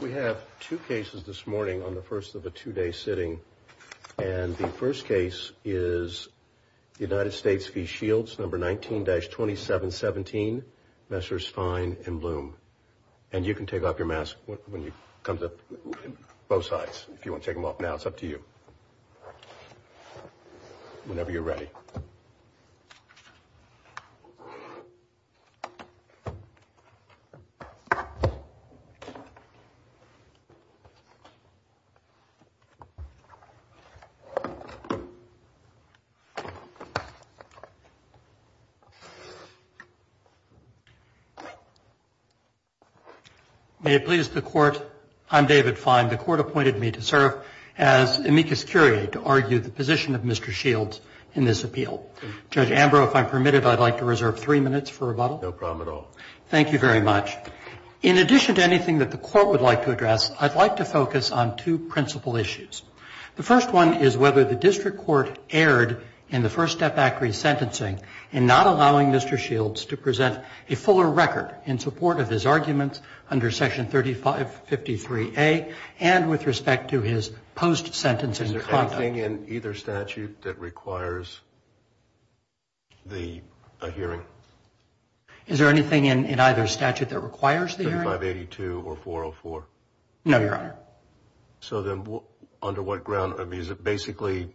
We have two cases this morning on the first of a two-day sitting. And the first case is the United States v. Shields, number 19-2717, Messrs. Fine and Bloom. And you can take off your mask when you come to both sides. If you want to take them off now, it's up to you, whenever you're ready. May it please the Court, I'm David Fine. The Court appointed me to serve as amicus curiae to argue the position of Mr. Shields in this appeal. Judge Ambrose, if I'm permitted, I'd like to reserve three minutes for rebuttal. No problem at all. Thank you very much. In addition to anything that the Court would like to address, I'd like to focus on two principal issues. The first one is whether the district court erred in the First Step Act resentencing in not allowing Mr. Shields to present a fuller record in support of his arguments under Section 3553A and with respect to his post-sentencing conduct. Is there anything in either statute that requires the hearing? Is there anything in either statute that requires the hearing? 3582 or 404. No, Your Honor. So then under what ground? I mean, is it basically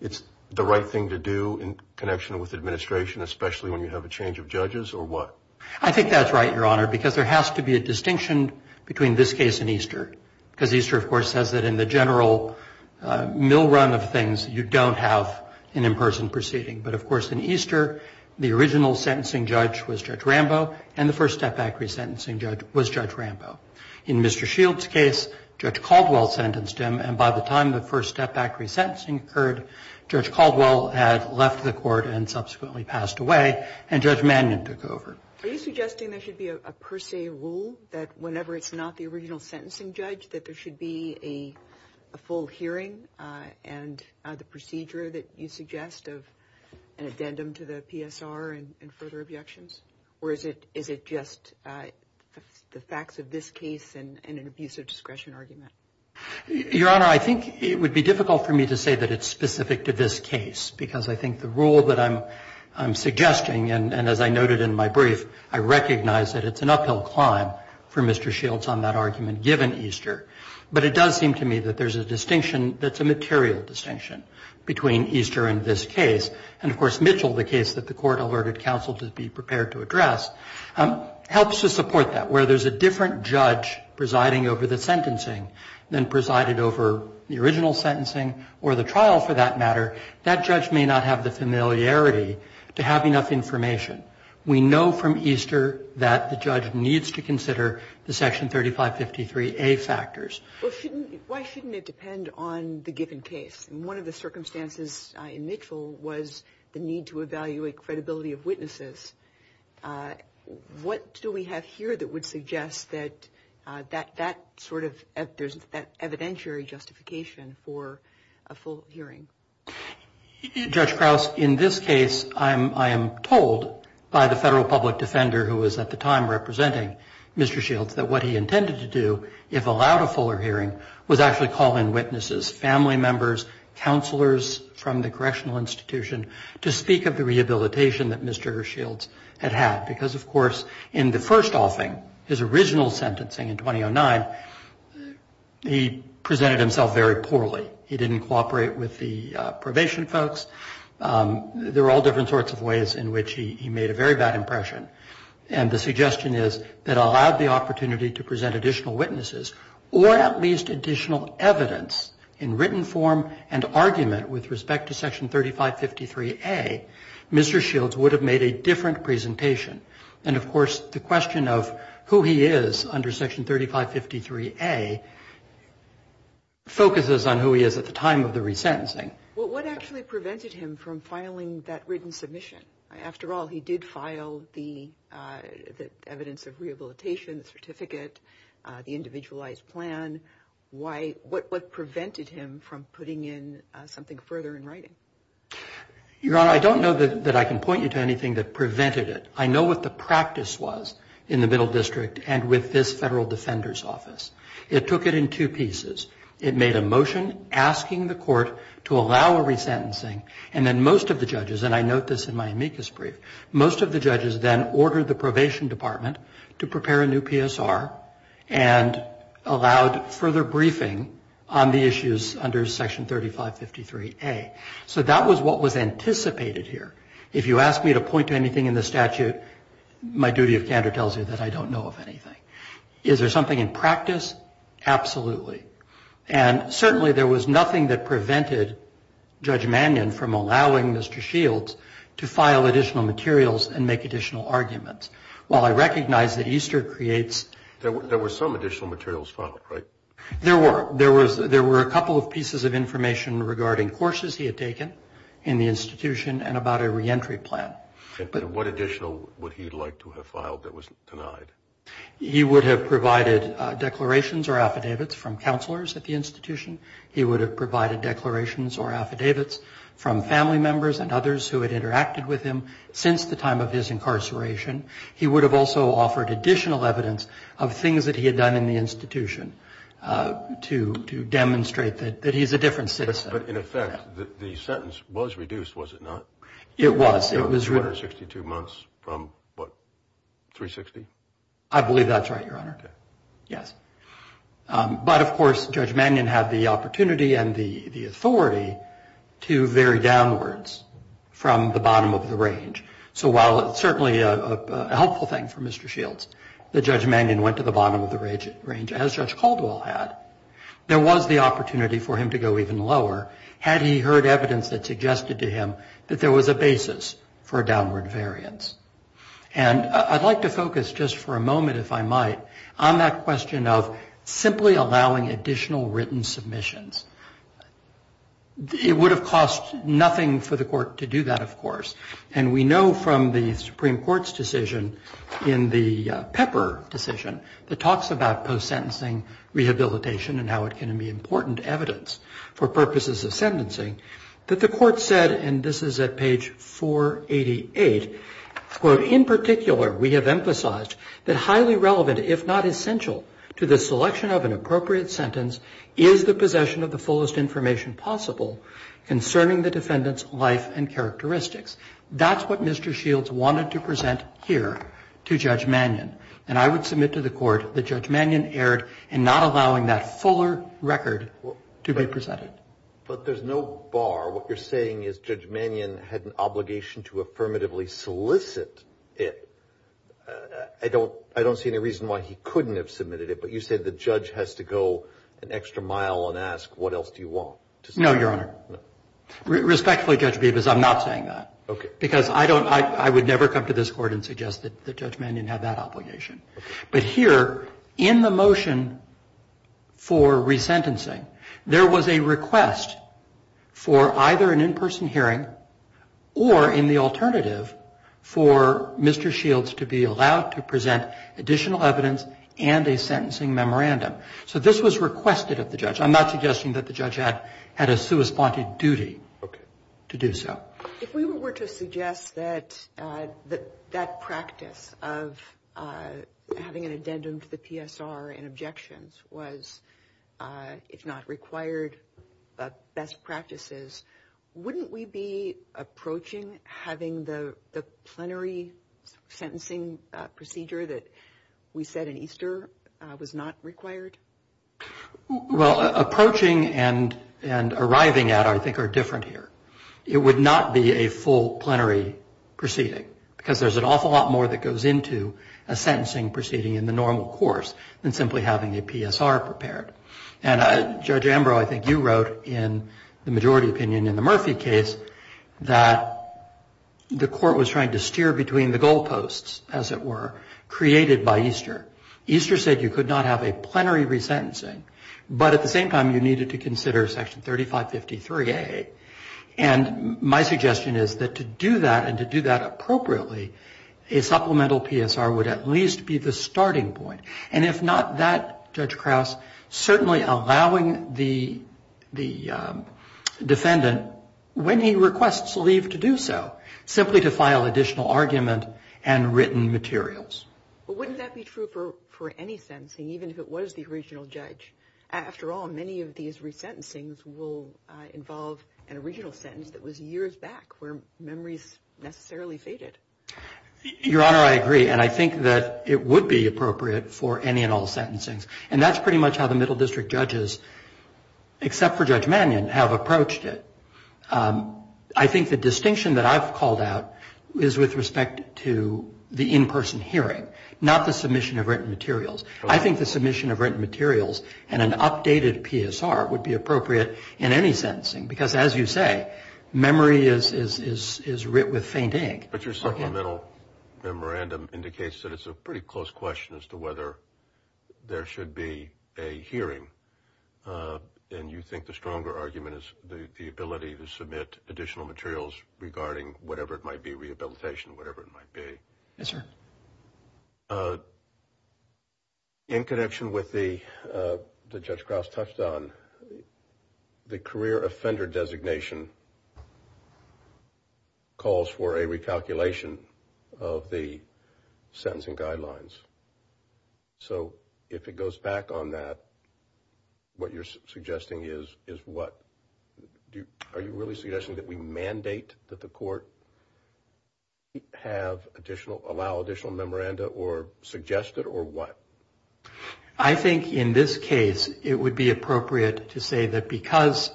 it's the right thing to do in connection with administration, especially when you have a change of judges, or what? I think that's right, Your Honor, because there has to be a distinction between this case and Easter. Because Easter, of course, says that in the general mill run of things, you don't have an in-person proceeding. But, of course, in Easter, the original sentencing judge was Judge Rambo, and the First Step Act resentencing judge was Judge Rambo. In Mr. Shields' case, Judge Caldwell sentenced him, and by the time the First Step Act resentencing occurred, Judge Caldwell had left the Court and subsequently passed away, and Judge Mannion took over. Are you suggesting there should be a per se rule that whenever it's not the original sentencing judge that there should be a full hearing and the procedure that you suggest of an addendum to the PSR and further objections? Or is it just the facts of this case and an abuse of discretion argument? Your Honor, I think it would be difficult for me to say that it's specific to this case, because I think the rule that I'm suggesting, and as I noted in my brief, I recognize that it's an uphill climb for Mr. Shields on that argument given Easter. But it does seem to me that there's a distinction that's a material distinction between Easter and this case. And, of course, Mitchell, the case that the Court alerted counsel to be prepared to address, helps to support that. Where there's a different judge presiding over the sentencing than presided over the original sentencing or the trial, for that matter, that judge may not have the familiarity to have enough information. We know from Easter that the judge needs to consider the Section 3553A factors. Well, shouldn't you? Why shouldn't it depend on the given case? And one of the circumstances in Mitchell was the need to evaluate credibility of witnesses. What do we have here that would suggest that that sort of evidentiary justification for a full hearing? Judge Krauss, in this case, I am told by the federal public defender, who was at the time representing Mr. Shields, that what he intended to do, if allowed a fuller hearing, was actually call in witnesses, family members, counselors from the correctional institution, to speak of the rehabilitation that Mr. Shields had had. Because, of course, in the first offing, his original sentencing in 2009, he presented himself very poorly. He didn't cooperate with the probation folks. There were all different sorts of ways in which he made a very bad impression. And the suggestion is that allowed the opportunity to present additional witnesses or at least additional evidence in written form and argument with respect to Section 3553A, Mr. Shields would have made a different presentation. And, of course, the question of who he is under Section 3553A focuses on who he is at the time of the resentencing. Well, what actually prevented him from filing that written submission? After all, he did file the evidence of rehabilitation, the certificate, the individualized plan. What prevented him from putting in something further in writing? Your Honor, I don't know that I can point you to anything that prevented it. I know what the practice was in the Middle District and with this federal defender's office. It took it in two pieces. It made a motion asking the court to allow a resentencing. And then most of the judges, and I note this in my amicus brief, most of the judges then ordered the probation department to prepare a new PSR and allowed further briefing on the issues under Section 3553A. So that was what was anticipated here. If you ask me to point to anything in the statute, my duty of candor tells you that I don't know of anything. Is there something in practice? Absolutely. And certainly there was nothing that prevented Judge Mannion from allowing Mr. Shields to file additional materials and make additional arguments. While I recognize that Easter creates – There were some additional materials filed, right? There were. There were a couple of pieces of information regarding courses he had taken in the institution and about a reentry plan. And what additional would he like to have filed that was denied? He would have provided declarations or affidavits from counselors at the institution. He would have provided declarations or affidavits from family members and others who had interacted with him since the time of his incarceration. He would have also offered additional evidence of things that he had done in the institution to demonstrate that he's a different citizen. But in effect, the sentence was reduced, was it not? It was. So 362 months from what, 360? I believe that's right, Your Honor. Okay. Yes. But, of course, Judge Mannion had the opportunity and the authority to vary downwards from the bottom of the range. So while it's certainly a helpful thing for Mr. Shields that Judge Mannion went to the bottom of the range, as Judge Caldwell had, there was the opportunity for him to go even lower had he heard evidence that for a downward variance. And I'd like to focus just for a moment, if I might, on that question of simply allowing additional written submissions. It would have cost nothing for the court to do that, of course. And we know from the Supreme Court's decision in the Pepper decision, the talks about post-sentencing rehabilitation and how it can be important evidence for purposes of sentencing, that the court said, and this is at page 488, quote, in particular we have emphasized that highly relevant, if not essential to the selection of an appropriate sentence, is the possession of the fullest information possible concerning the defendant's life and characteristics. That's what Mr. Shields wanted to present here to Judge Mannion. And I would submit to the court that Judge Mannion erred in not allowing that fuller record to be presented. But there's no bar. What you're saying is Judge Mannion had an obligation to affirmatively solicit it. I don't see any reason why he couldn't have submitted it, but you said the judge has to go an extra mile and ask, what else do you want? No, Your Honor. Respectfully, Judge Bevis, I'm not saying that. Okay. Because I don't, I would never come to this court and suggest that Judge Mannion had that obligation. But here, in the motion for resentencing, there was a request for either an in-person hearing or, in the alternative, for Mr. Shields to be allowed to present additional evidence and a sentencing memorandum. So this was requested of the judge. I'm not suggesting that the judge had a sui sponte duty to do so. If we were to suggest that that practice of having an addendum to the PSR and not required best practices, wouldn't we be approaching having the plenary sentencing procedure that we said in Easter was not required? Well, approaching and arriving at, I think, are different here. It would not be a full plenary proceeding, because there's an awful lot more that goes into a sentencing proceeding in the normal course than simply having a PSR prepared. And, Judge Ambrose, I think you wrote in the majority opinion in the Murphy case that the court was trying to steer between the goal posts, as it were, created by Easter. Easter said you could not have a plenary resentencing, but at the same time you needed to consider Section 3553A. And my suggestion is that to do that and to do that appropriately, a supplemental PSR would at least be the starting point. And if not that, Judge Krauss, certainly allowing the defendant, when he requests leave to do so, simply to file additional argument and written materials. But wouldn't that be true for any sentencing, even if it was the original judge? After all, many of these resentencings will involve an original sentence that was years back where memories necessarily faded. Your Honor, I agree. And I think that it would be appropriate for any and all sentencings. And that's pretty much how the Middle District judges, except for Judge Mannion, have approached it. I think the distinction that I've called out is with respect to the in-person hearing, not the submission of written materials. I think the submission of written materials and an updated PSR would be appropriate in any sentencing. Because, as you say, memory is writ with faint ink. But your supplemental memorandum indicates that it's a pretty close question as to whether there should be a hearing. And you think the stronger argument is the ability to submit additional materials regarding whatever it might be, rehabilitation, whatever it might be. Yes, sir. In connection with what Judge Krauss touched on, the career offender designation calls for a recalculation of the sentencing guidelines. So if it goes back on that, what you're suggesting is what? Are you really suggesting that we mandate that the court have additional, allow additional memoranda, or suggest it, or what? I think in this case, it would be appropriate to say that because,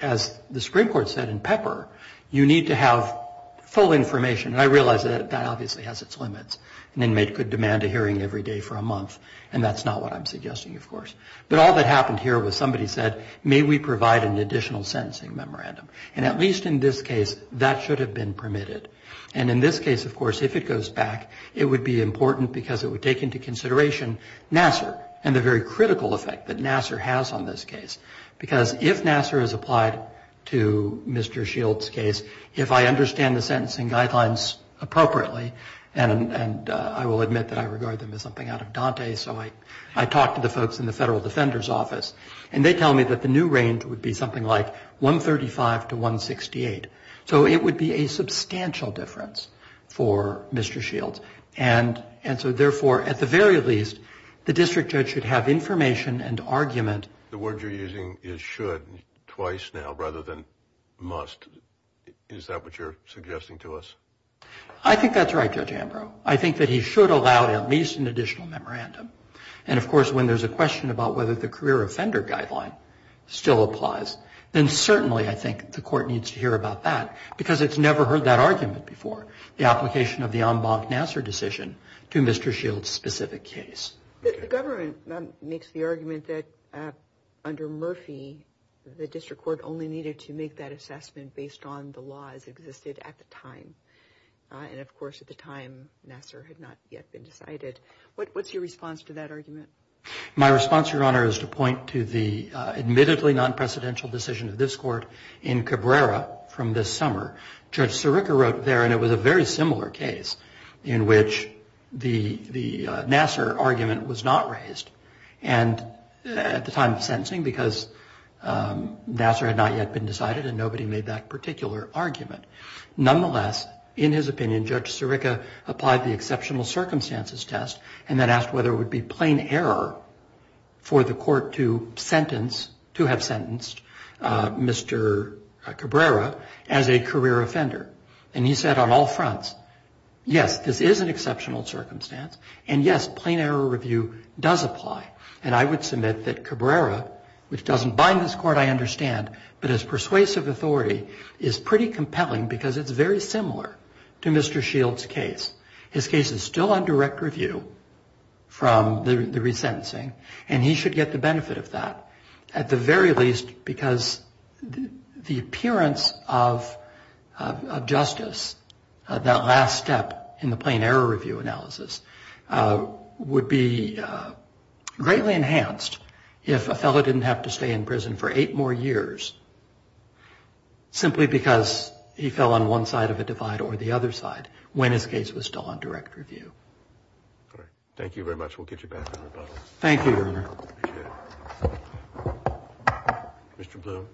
as the Supreme Court said in Pepper, you need to have full information. And I realize that that obviously has its limits. An inmate could demand a hearing every day for a month. And that's not what I'm suggesting, of course. But all that happened here was somebody said, may we provide an additional sentencing memorandum. And at least in this case, that should have been permitted. And in this case, of course, if it goes back, it would be important because it would take into consideration Nassar, and the very critical effect that Nassar has on this case. Because if Nassar is applied to Mr. Shields' case, if I understand the sentencing guidelines appropriately, and I will admit that I regard them as something out of Dante, so I talk to the folks in the Federal Defender's Office, and they tell me that the new range would be something like 135 to 168. So it would be a substantial difference for Mr. Shields. And so, therefore, at the very least, the district judge should have information and argument. The word you're using is should twice now rather than must. Is that what you're suggesting to us? I think that's right, Judge Ambrose. I think that he should allow at least an additional memorandum. And, of course, when there's a question about whether the career offender guideline still applies, then certainly I think the court needs to hear about that because it's never heard that argument before. The application of the en banc Nassar decision to Mr. Shields' specific case. The government makes the argument that under Murphy, the district court only needed to make that assessment based on the laws that existed at the time. And, of course, at the time, Nassar had not yet been decided. What's your response to that argument? My response, Your Honor, is to point to the admittedly non-presidential decision of this court in Cabrera from this summer. Judge Sirica wrote there and it was a very similar case in which the Nassar argument was not raised at the time of sentencing because Nassar had not yet been decided and nobody made that particular argument. Nonetheless, in his opinion, Judge Sirica applied the exceptional circumstances test and then asked whether it would be plain error for the court to sentence, to have sentenced, Mr. Cabrera as a career offender. And he said on all fronts, yes, this is an exceptional circumstance and, yes, plain error review does apply. And I would submit that Cabrera, which doesn't bind this court, I understand, but as persuasive authority is pretty compelling because it's very similar to Mr. Shields' case. His case is still on direct review from the resentencing and he should get the benefit of that. At the very least, because the appearance of justice, that last step in the plain error review analysis, would be greatly enhanced if a fellow didn't have to stay in prison for eight more years simply because he fell on one side of a divide or the other side when his case was still on direct review. Thank you very much. We'll get you back to rebuttal. Thank you, Your Honor. Mr. Bloom.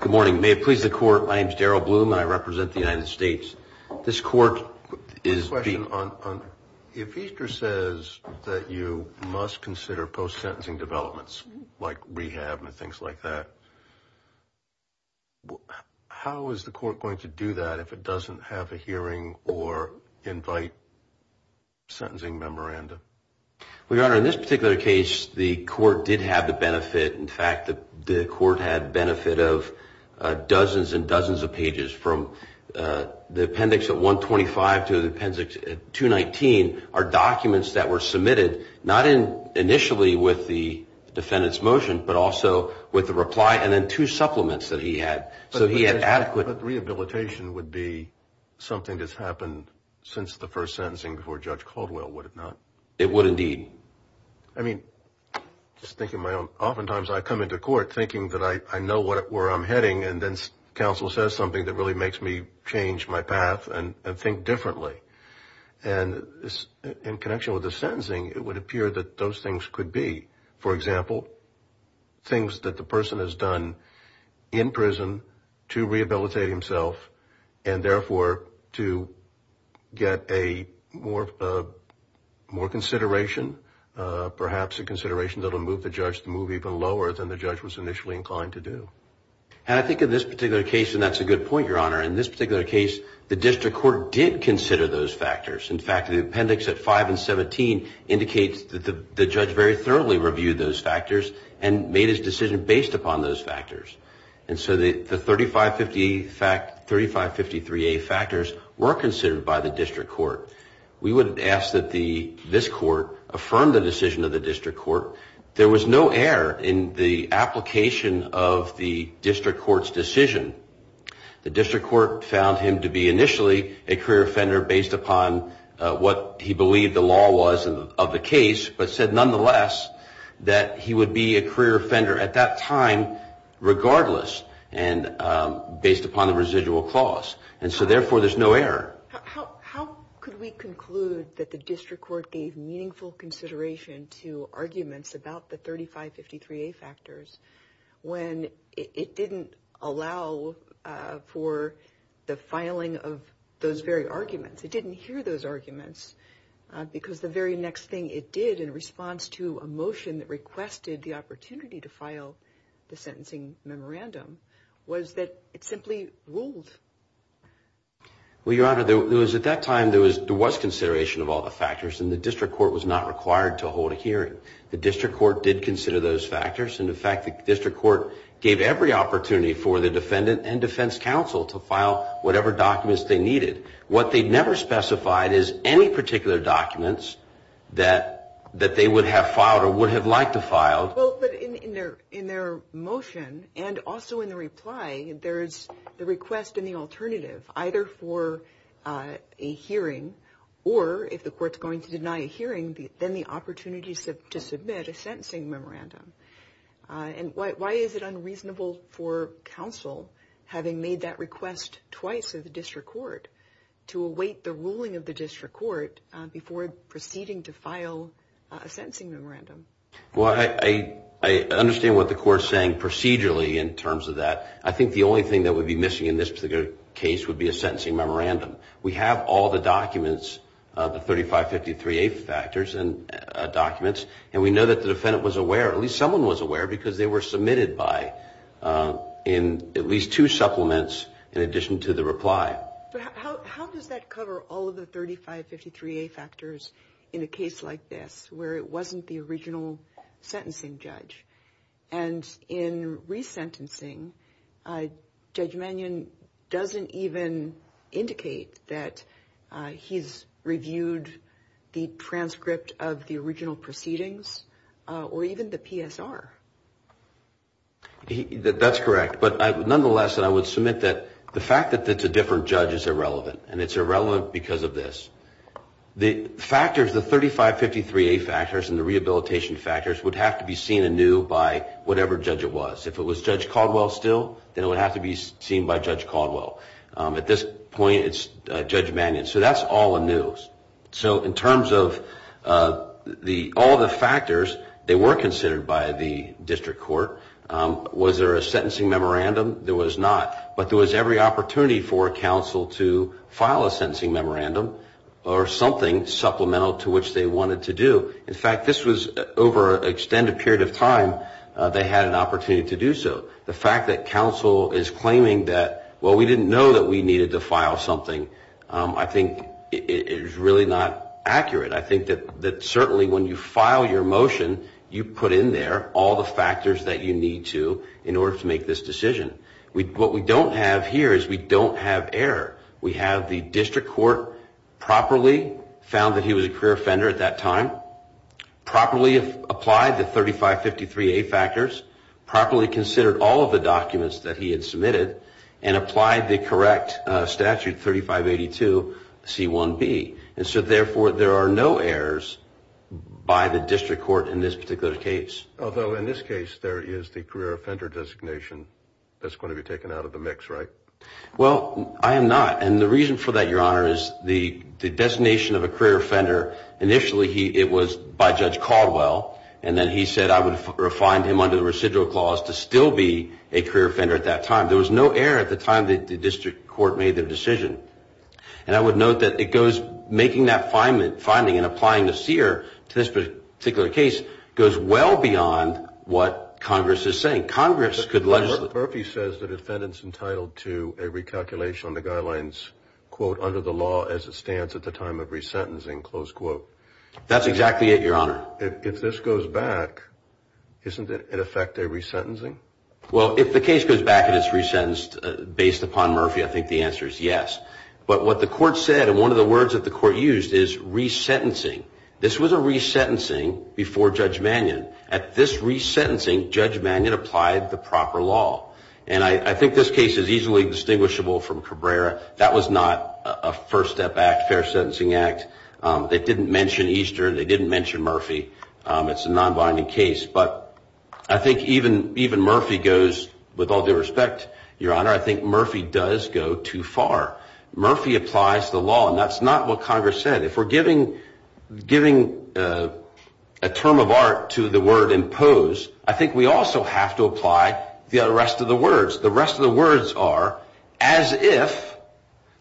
Good morning. May it please the Court, my name is Darrell Bloom and I represent the United States. This court is being... I have a question. If Easter says that you must consider post-sentencing developments like rehab and things like that, how is the court going to do that if it doesn't have a hearing or invite sentencing memorandum? Well, Your Honor, in this particular case, the court did have the benefit. In fact, the court had benefit of dozens and dozens of pages from the appendix at 125 to the appendix at 219 are documents that were submitted, not initially with the defendant's motion, but also with the reply and then two supplements that he had. But rehabilitation would be something that's happened since the first sentencing before Judge Caldwell, would it not? It would indeed. I mean, just thinking of my own... Oftentimes I come into court thinking that I know where I'm heading and then counsel says something that really makes me change my path and think differently. And in connection with the sentencing, it would appear that those things could be, for example, things that the person has done in prison to rehabilitate himself and therefore to get a more consideration, perhaps a consideration that will move the judge to move even lower than the judge was initially inclined to do. And I think in this particular case, and that's a good point, Your Honor, in this particular case, the district court did consider those factors. In fact, the appendix at 5 and 17 indicates that the judge has very thoroughly reviewed those factors and made his decision based upon those factors. And so the 3553A factors were considered by the district court. We would ask that this court affirm the decision of the district court. There was no error in the application of the district court's decision. The district court found him to be initially a career offender based upon what he believed the law was of the case but said nonetheless that he would be a career offender at that time regardless and based upon the residual clause. And so therefore there's no error. How could we conclude that the district court gave meaningful consideration to arguments about the 3553A factors when it didn't allow for the filing of those very arguments? It didn't hear those arguments because the very next thing it did in response to a motion that requested the opportunity to file the sentencing memorandum was that it simply ruled. Well, Your Honor, at that time there was consideration of all the factors and the district court was not required to hold a hearing. The district court did consider those factors, and in fact the district court gave every opportunity for the defendant and defense counsel to file whatever documents they needed. What they never specified is any particular documents that they would have filed or would have liked to file. Well, but in their motion and also in the reply, there's the request and the alternative, either for a hearing or if the court's going to deny a hearing, then the opportunity to submit a sentencing memorandum. And why is it unreasonable for counsel, having made that request twice to the district court, to await the ruling of the district court before proceeding to file a sentencing memorandum? Well, I understand what the court is saying procedurally in terms of that. I think the only thing that would be missing in this particular case would be a sentencing memorandum. We have all the documents, the 3553A factors and documents, and we know that the defendant was aware, at least someone was aware because they were submitted by, in at least two supplements in addition to the reply. But how does that cover all of the 3553A factors in a case like this where it wasn't the original sentencing judge? And in resentencing, Judge Mannion doesn't even indicate that he's reviewed the transcript of the original proceedings or even the PSR. That's correct. But nonetheless, I would submit that the fact that it's a different judge is irrelevant, and it's irrelevant because of this. The factors, the 3553A factors and the rehabilitation factors, would have to be seen anew by whatever judge it was. If it was Judge Caldwell still, then it would have to be seen by Judge Caldwell. At this point, it's Judge Mannion. So that's all anew. So in terms of all the factors, they were considered by the district court. Was there a sentencing memorandum? There was not. But there was every opportunity for a counsel to file a sentencing memorandum or something supplemental to which they wanted to do. In fact, this was over an extended period of time they had an opportunity to do so. The fact that counsel is claiming that, well, we didn't know that we needed to file something, I think is really not accurate. I think that certainly when you file your motion, you put in there all the factors that you need to in order to make this decision. What we don't have here is we don't have error. We have the district court properly found that he was a career offender at that time, properly applied the 3553A factors, properly considered all of the documents that he had submitted, and applied the correct statute, 3582C1B. And so, therefore, there are no errors by the district court in this particular case. Although in this case, there is the career offender designation that's going to be taken out of the mix, right? Well, I am not. And the reason for that, Your Honor, is the designation of a career offender, initially it was by Judge Caldwell, and then he said I would find him under the residual clause to still be a career offender at that time. There was no error at the time that the district court made their decision. And I would note that it goes making that finding and applying the seer to this particular case goes well beyond what Congress is saying. Congress could legislate. Murphy says the defendant's entitled to a recalculation on the guidelines, quote, under the law as it stands at the time of resentencing, close quote. That's exactly it, Your Honor. If this goes back, isn't it in effect a resentencing? Well, if the case goes back and it's resentenced based upon Murphy, I think the answer is yes. But what the court said and one of the words that the court used is resentencing. This was a resentencing before Judge Mannion. At this resentencing, Judge Mannion applied the proper law. And I think this case is easily distinguishable from Cabrera. That was not a first step act, fair sentencing act. They didn't mention Easter. They didn't mention Murphy. It's a non-binding case. But I think even Murphy goes, with all due respect, Your Honor, I think Murphy does go too far. Murphy applies the law, and that's not what Congress said. If we're giving a term of art to the word impose, I think we also have to apply the rest of the words. The rest of the words are as if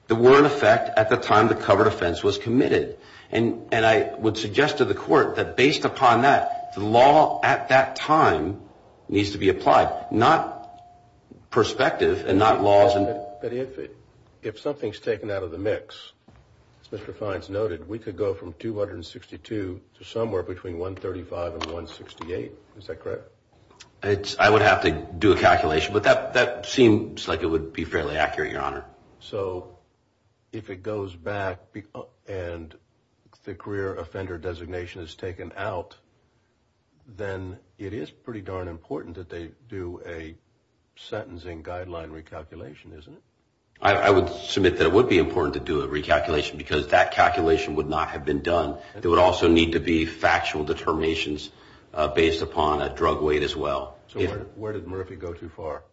there were an effect at the time the covered offense was committed. And I would suggest to the court that based upon that, the law at that time needs to be applied. Not perspective and not laws. But if something's taken out of the mix, as Mr. Fines noted, we could go from 262 to somewhere between 135 and 168. Is that correct? I would have to do a calculation. But that seems like it would be fairly accurate, Your Honor. So if it goes back and the career offender designation is taken out, then it is pretty darn important that they do a sentencing guideline recalculation, isn't it? I would submit that it would be important to do a recalculation because that calculation would not have been done. There would also need to be factual determinations based upon a drug weight as well. So where did Murphy go too far?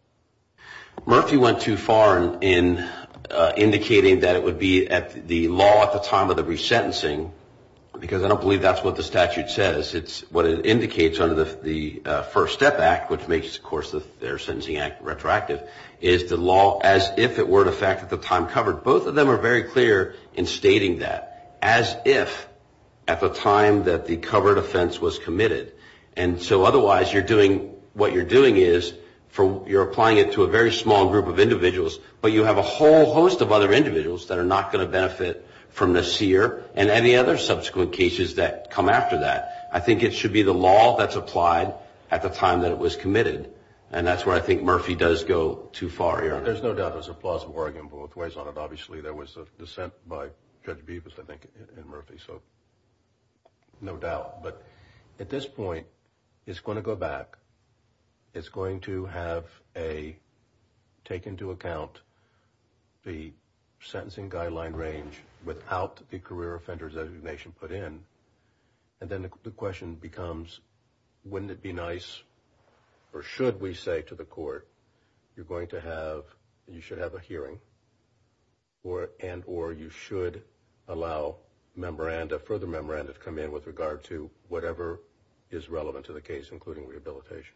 Murphy went too far in indicating that it would be at the law at the time of the resentencing because I don't believe that's what the statute says. It's what it indicates under the First Step Act, which makes, of course, the Fair Sentencing Act retroactive, is the law as if it were an effect at the time covered. Both of them are very clear in stating that as if at the time that the covered offense was committed. And so otherwise, what you're doing is you're applying it to a very small group of individuals, but you have a whole host of other individuals that are not going to benefit from this here and any other subsequent cases that come after that. I think it should be the law that's applied at the time that it was committed, and that's where I think Murphy does go too far, Your Honor. There's no doubt there's a plausible argument both ways on it. Obviously, there was a dissent by Judge Bevis, I think, and Murphy, so no doubt. But at this point, it's going to go back. It's going to have a take into account the sentencing guideline range without the career offenders designation put in. And then the question becomes, wouldn't it be nice, or should we say to the court, you're going to have, you should have a hearing, and or you should allow further memoranda to come in with regard to whatever is relevant to the case, including rehabilitation?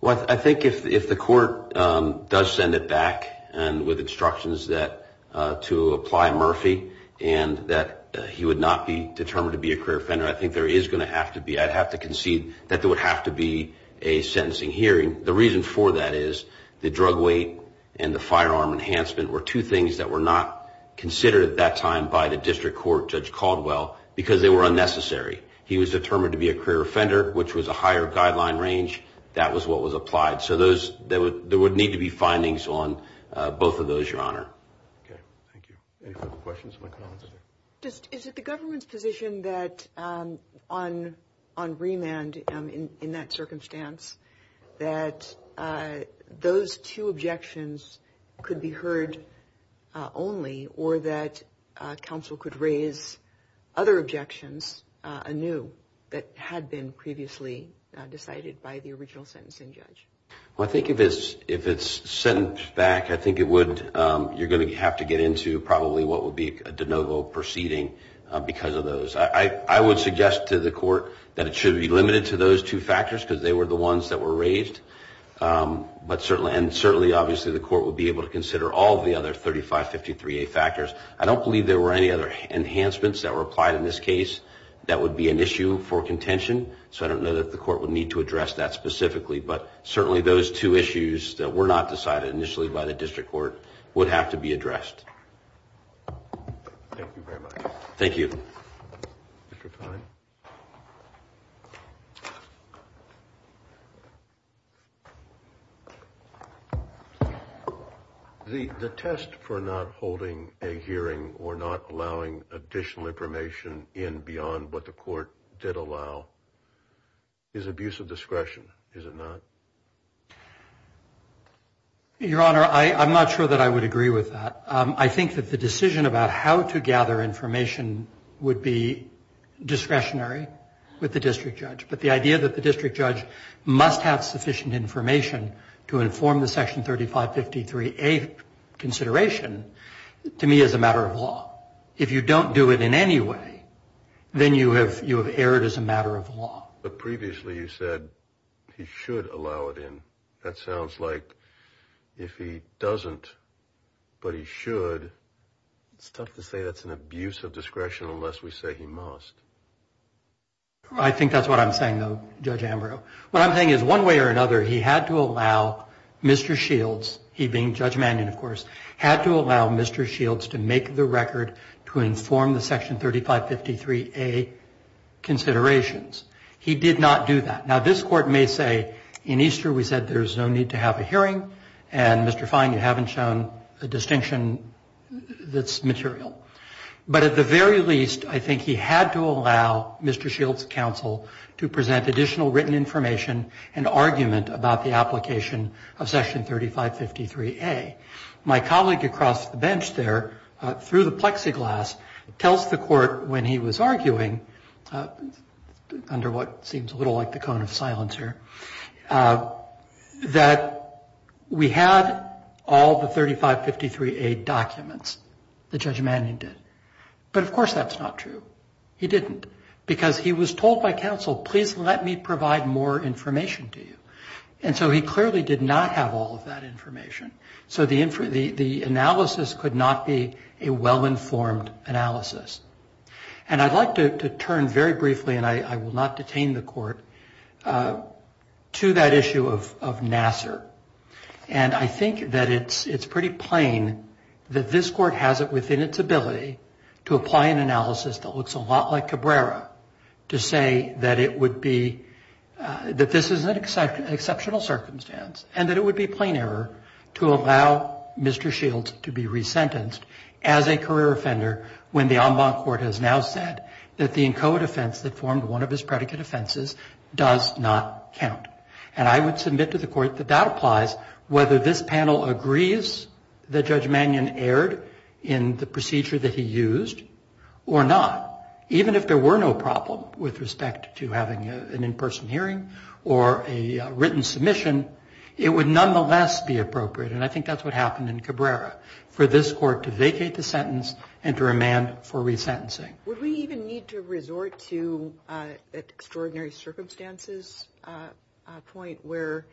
Well, I think if the court does send it back with instructions to apply Murphy and that he would not be determined to be a career offender, I think there is going to have to be, I'd have to concede that there would have to be a sentencing hearing. The reason for that is the drug weight and the firearm enhancement were two things that were not considered at that time by the district court, Judge Caldwell, because they were unnecessary. He was determined to be a career offender, which was a higher guideline range. That was what was applied. So there would need to be findings on both of those, Your Honor. Okay, thank you. Any further questions or comments? Is it the government's position that on remand in that circumstance, that those two objections could be heard only, or that counsel could raise other objections anew that had been previously decided by the original sentencing judge? Well, I think if it's sent back, I think it would, you're going to have to get into probably what would be a de novo proceeding because of those. I would suggest to the court that it should be limited to those two factors because they were the ones that were raised. And certainly, obviously, the court would be able to consider all the other 3553A factors. I don't believe there were any other enhancements that were applied in this case that would be an issue for contention, so I don't know that the court would need to address that specifically. But certainly those two issues that were not decided initially by the district court would have to be addressed. Thank you very much. Thank you. Mr. Kline? The test for not holding a hearing or not allowing additional information in beyond what the court did allow is abuse of discretion, is it not? Your Honor, I'm not sure that I would agree with that. I think that the decision about how to gather information would be discretionary with the district judge. But the idea that the district judge must have sufficient information to inform the Section 3553A consideration to me is a matter of law. If you don't do it in any way, then you have erred as a matter of law. But previously you said he should allow it in. That sounds like if he doesn't but he should, it's tough to say that's an abuse of discretion unless we say he must. I think that's what I'm saying, though, Judge Ambrose. What I'm saying is one way or another he had to allow Mr. Shields, he being Judge Mannion, of course, had to allow Mr. Shields to make the record to inform the Section 3553A considerations. He did not do that. Now, this Court may say in Easter we said there's no need to have a hearing and, Mr. Fine, you haven't shown a distinction that's material. But at the very least, I think he had to allow Mr. Shields' counsel to present additional written information and argument about the application of Section 3553A. My colleague across the bench there, through the plexiglass, tells the Court when he was arguing, under what seems a little like the cone of silence here, that we had all the 3553A documents that Judge Mannion did. But, of course, that's not true. He didn't because he was told by counsel, please let me provide more information to you. And so he clearly did not have all of that information. So the analysis could not be a well-informed analysis. And I'd like to turn very briefly, and I will not detain the Court, to that issue of Nassar. And I think that it's pretty plain that this Court has it within its ability to apply an analysis that looks a lot like Cabrera, to say that this is an exceptional circumstance and that it would be plain error to allow Mr. Shields to be resentenced as a career offender when the en banc court has now said that the in coed offense that formed one of his predicate offenses does not count. And I would submit to the Court that that applies whether this panel agrees that Judge Mannion erred in the procedure that he used or not, even if there were no problem with respect to having an in-person hearing or a written submission, it would nonetheless be appropriate, and I think that's what happened in Cabrera, for this Court to vacate the sentence and to remand for resentencing. Would we even need to resort to an extraordinary circumstances point where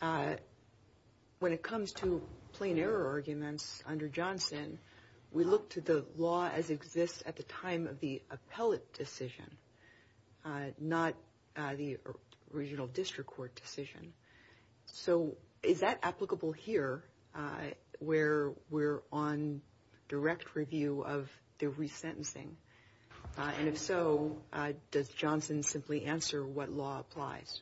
when it comes to plain error arguments under Johnson, we look to the law as exists at the time of the appellate decision, not the original district court decision? So is that applicable here where we're on direct review of the resentencing? And if so, does Johnson simply answer what law applies?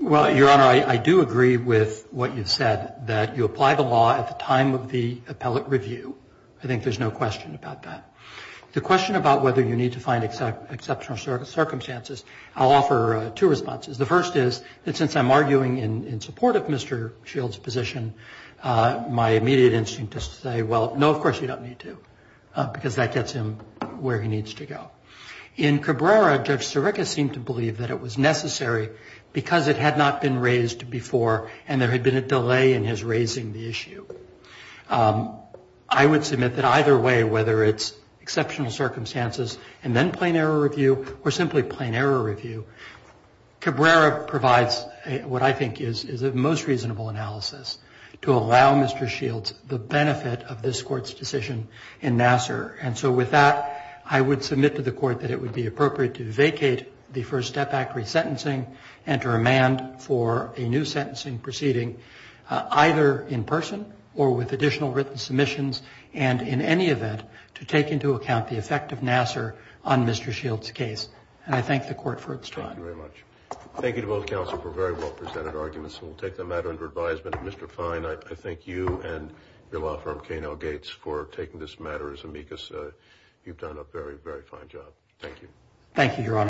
Well, Your Honor, I do agree with what you've said, that you apply the law at the time of the appellate review. I think there's no question about that. The question about whether you need to find exceptional circumstances, I'll offer two responses. The first is that since I'm arguing in support of Mr. Shields' position, my immediate instinct is to say, well, no, of course you don't need to, because that gets him where he needs to go. In Cabrera, Judge Sirica seemed to believe that it was necessary because it had not been raised before and there had been a delay in his raising the issue. I would submit that either way, whether it's exceptional circumstances and then plain error review or simply plain error review, Cabrera provides what I think is a most reasonable analysis to allow Mr. Shields the benefit of this Court's decision in Nassar. And so with that, I would submit to the Court that it would be appropriate to vacate the First Step Act resentencing and to remand for a new sentencing proceeding, either in person or with additional written submissions and in any event to take into account the effect of Nassar on Mr. Shields' case. And I thank the Court for its time. Thank you very much. Thank you to both counsel for very well-presented arguments. We'll take the matter under advisement. Mr. Fine, I thank you and your law firm, K&L Gates, for taking this matter as amicus. You've done a very, very fine job. Thank you. Thank you, Your Honor.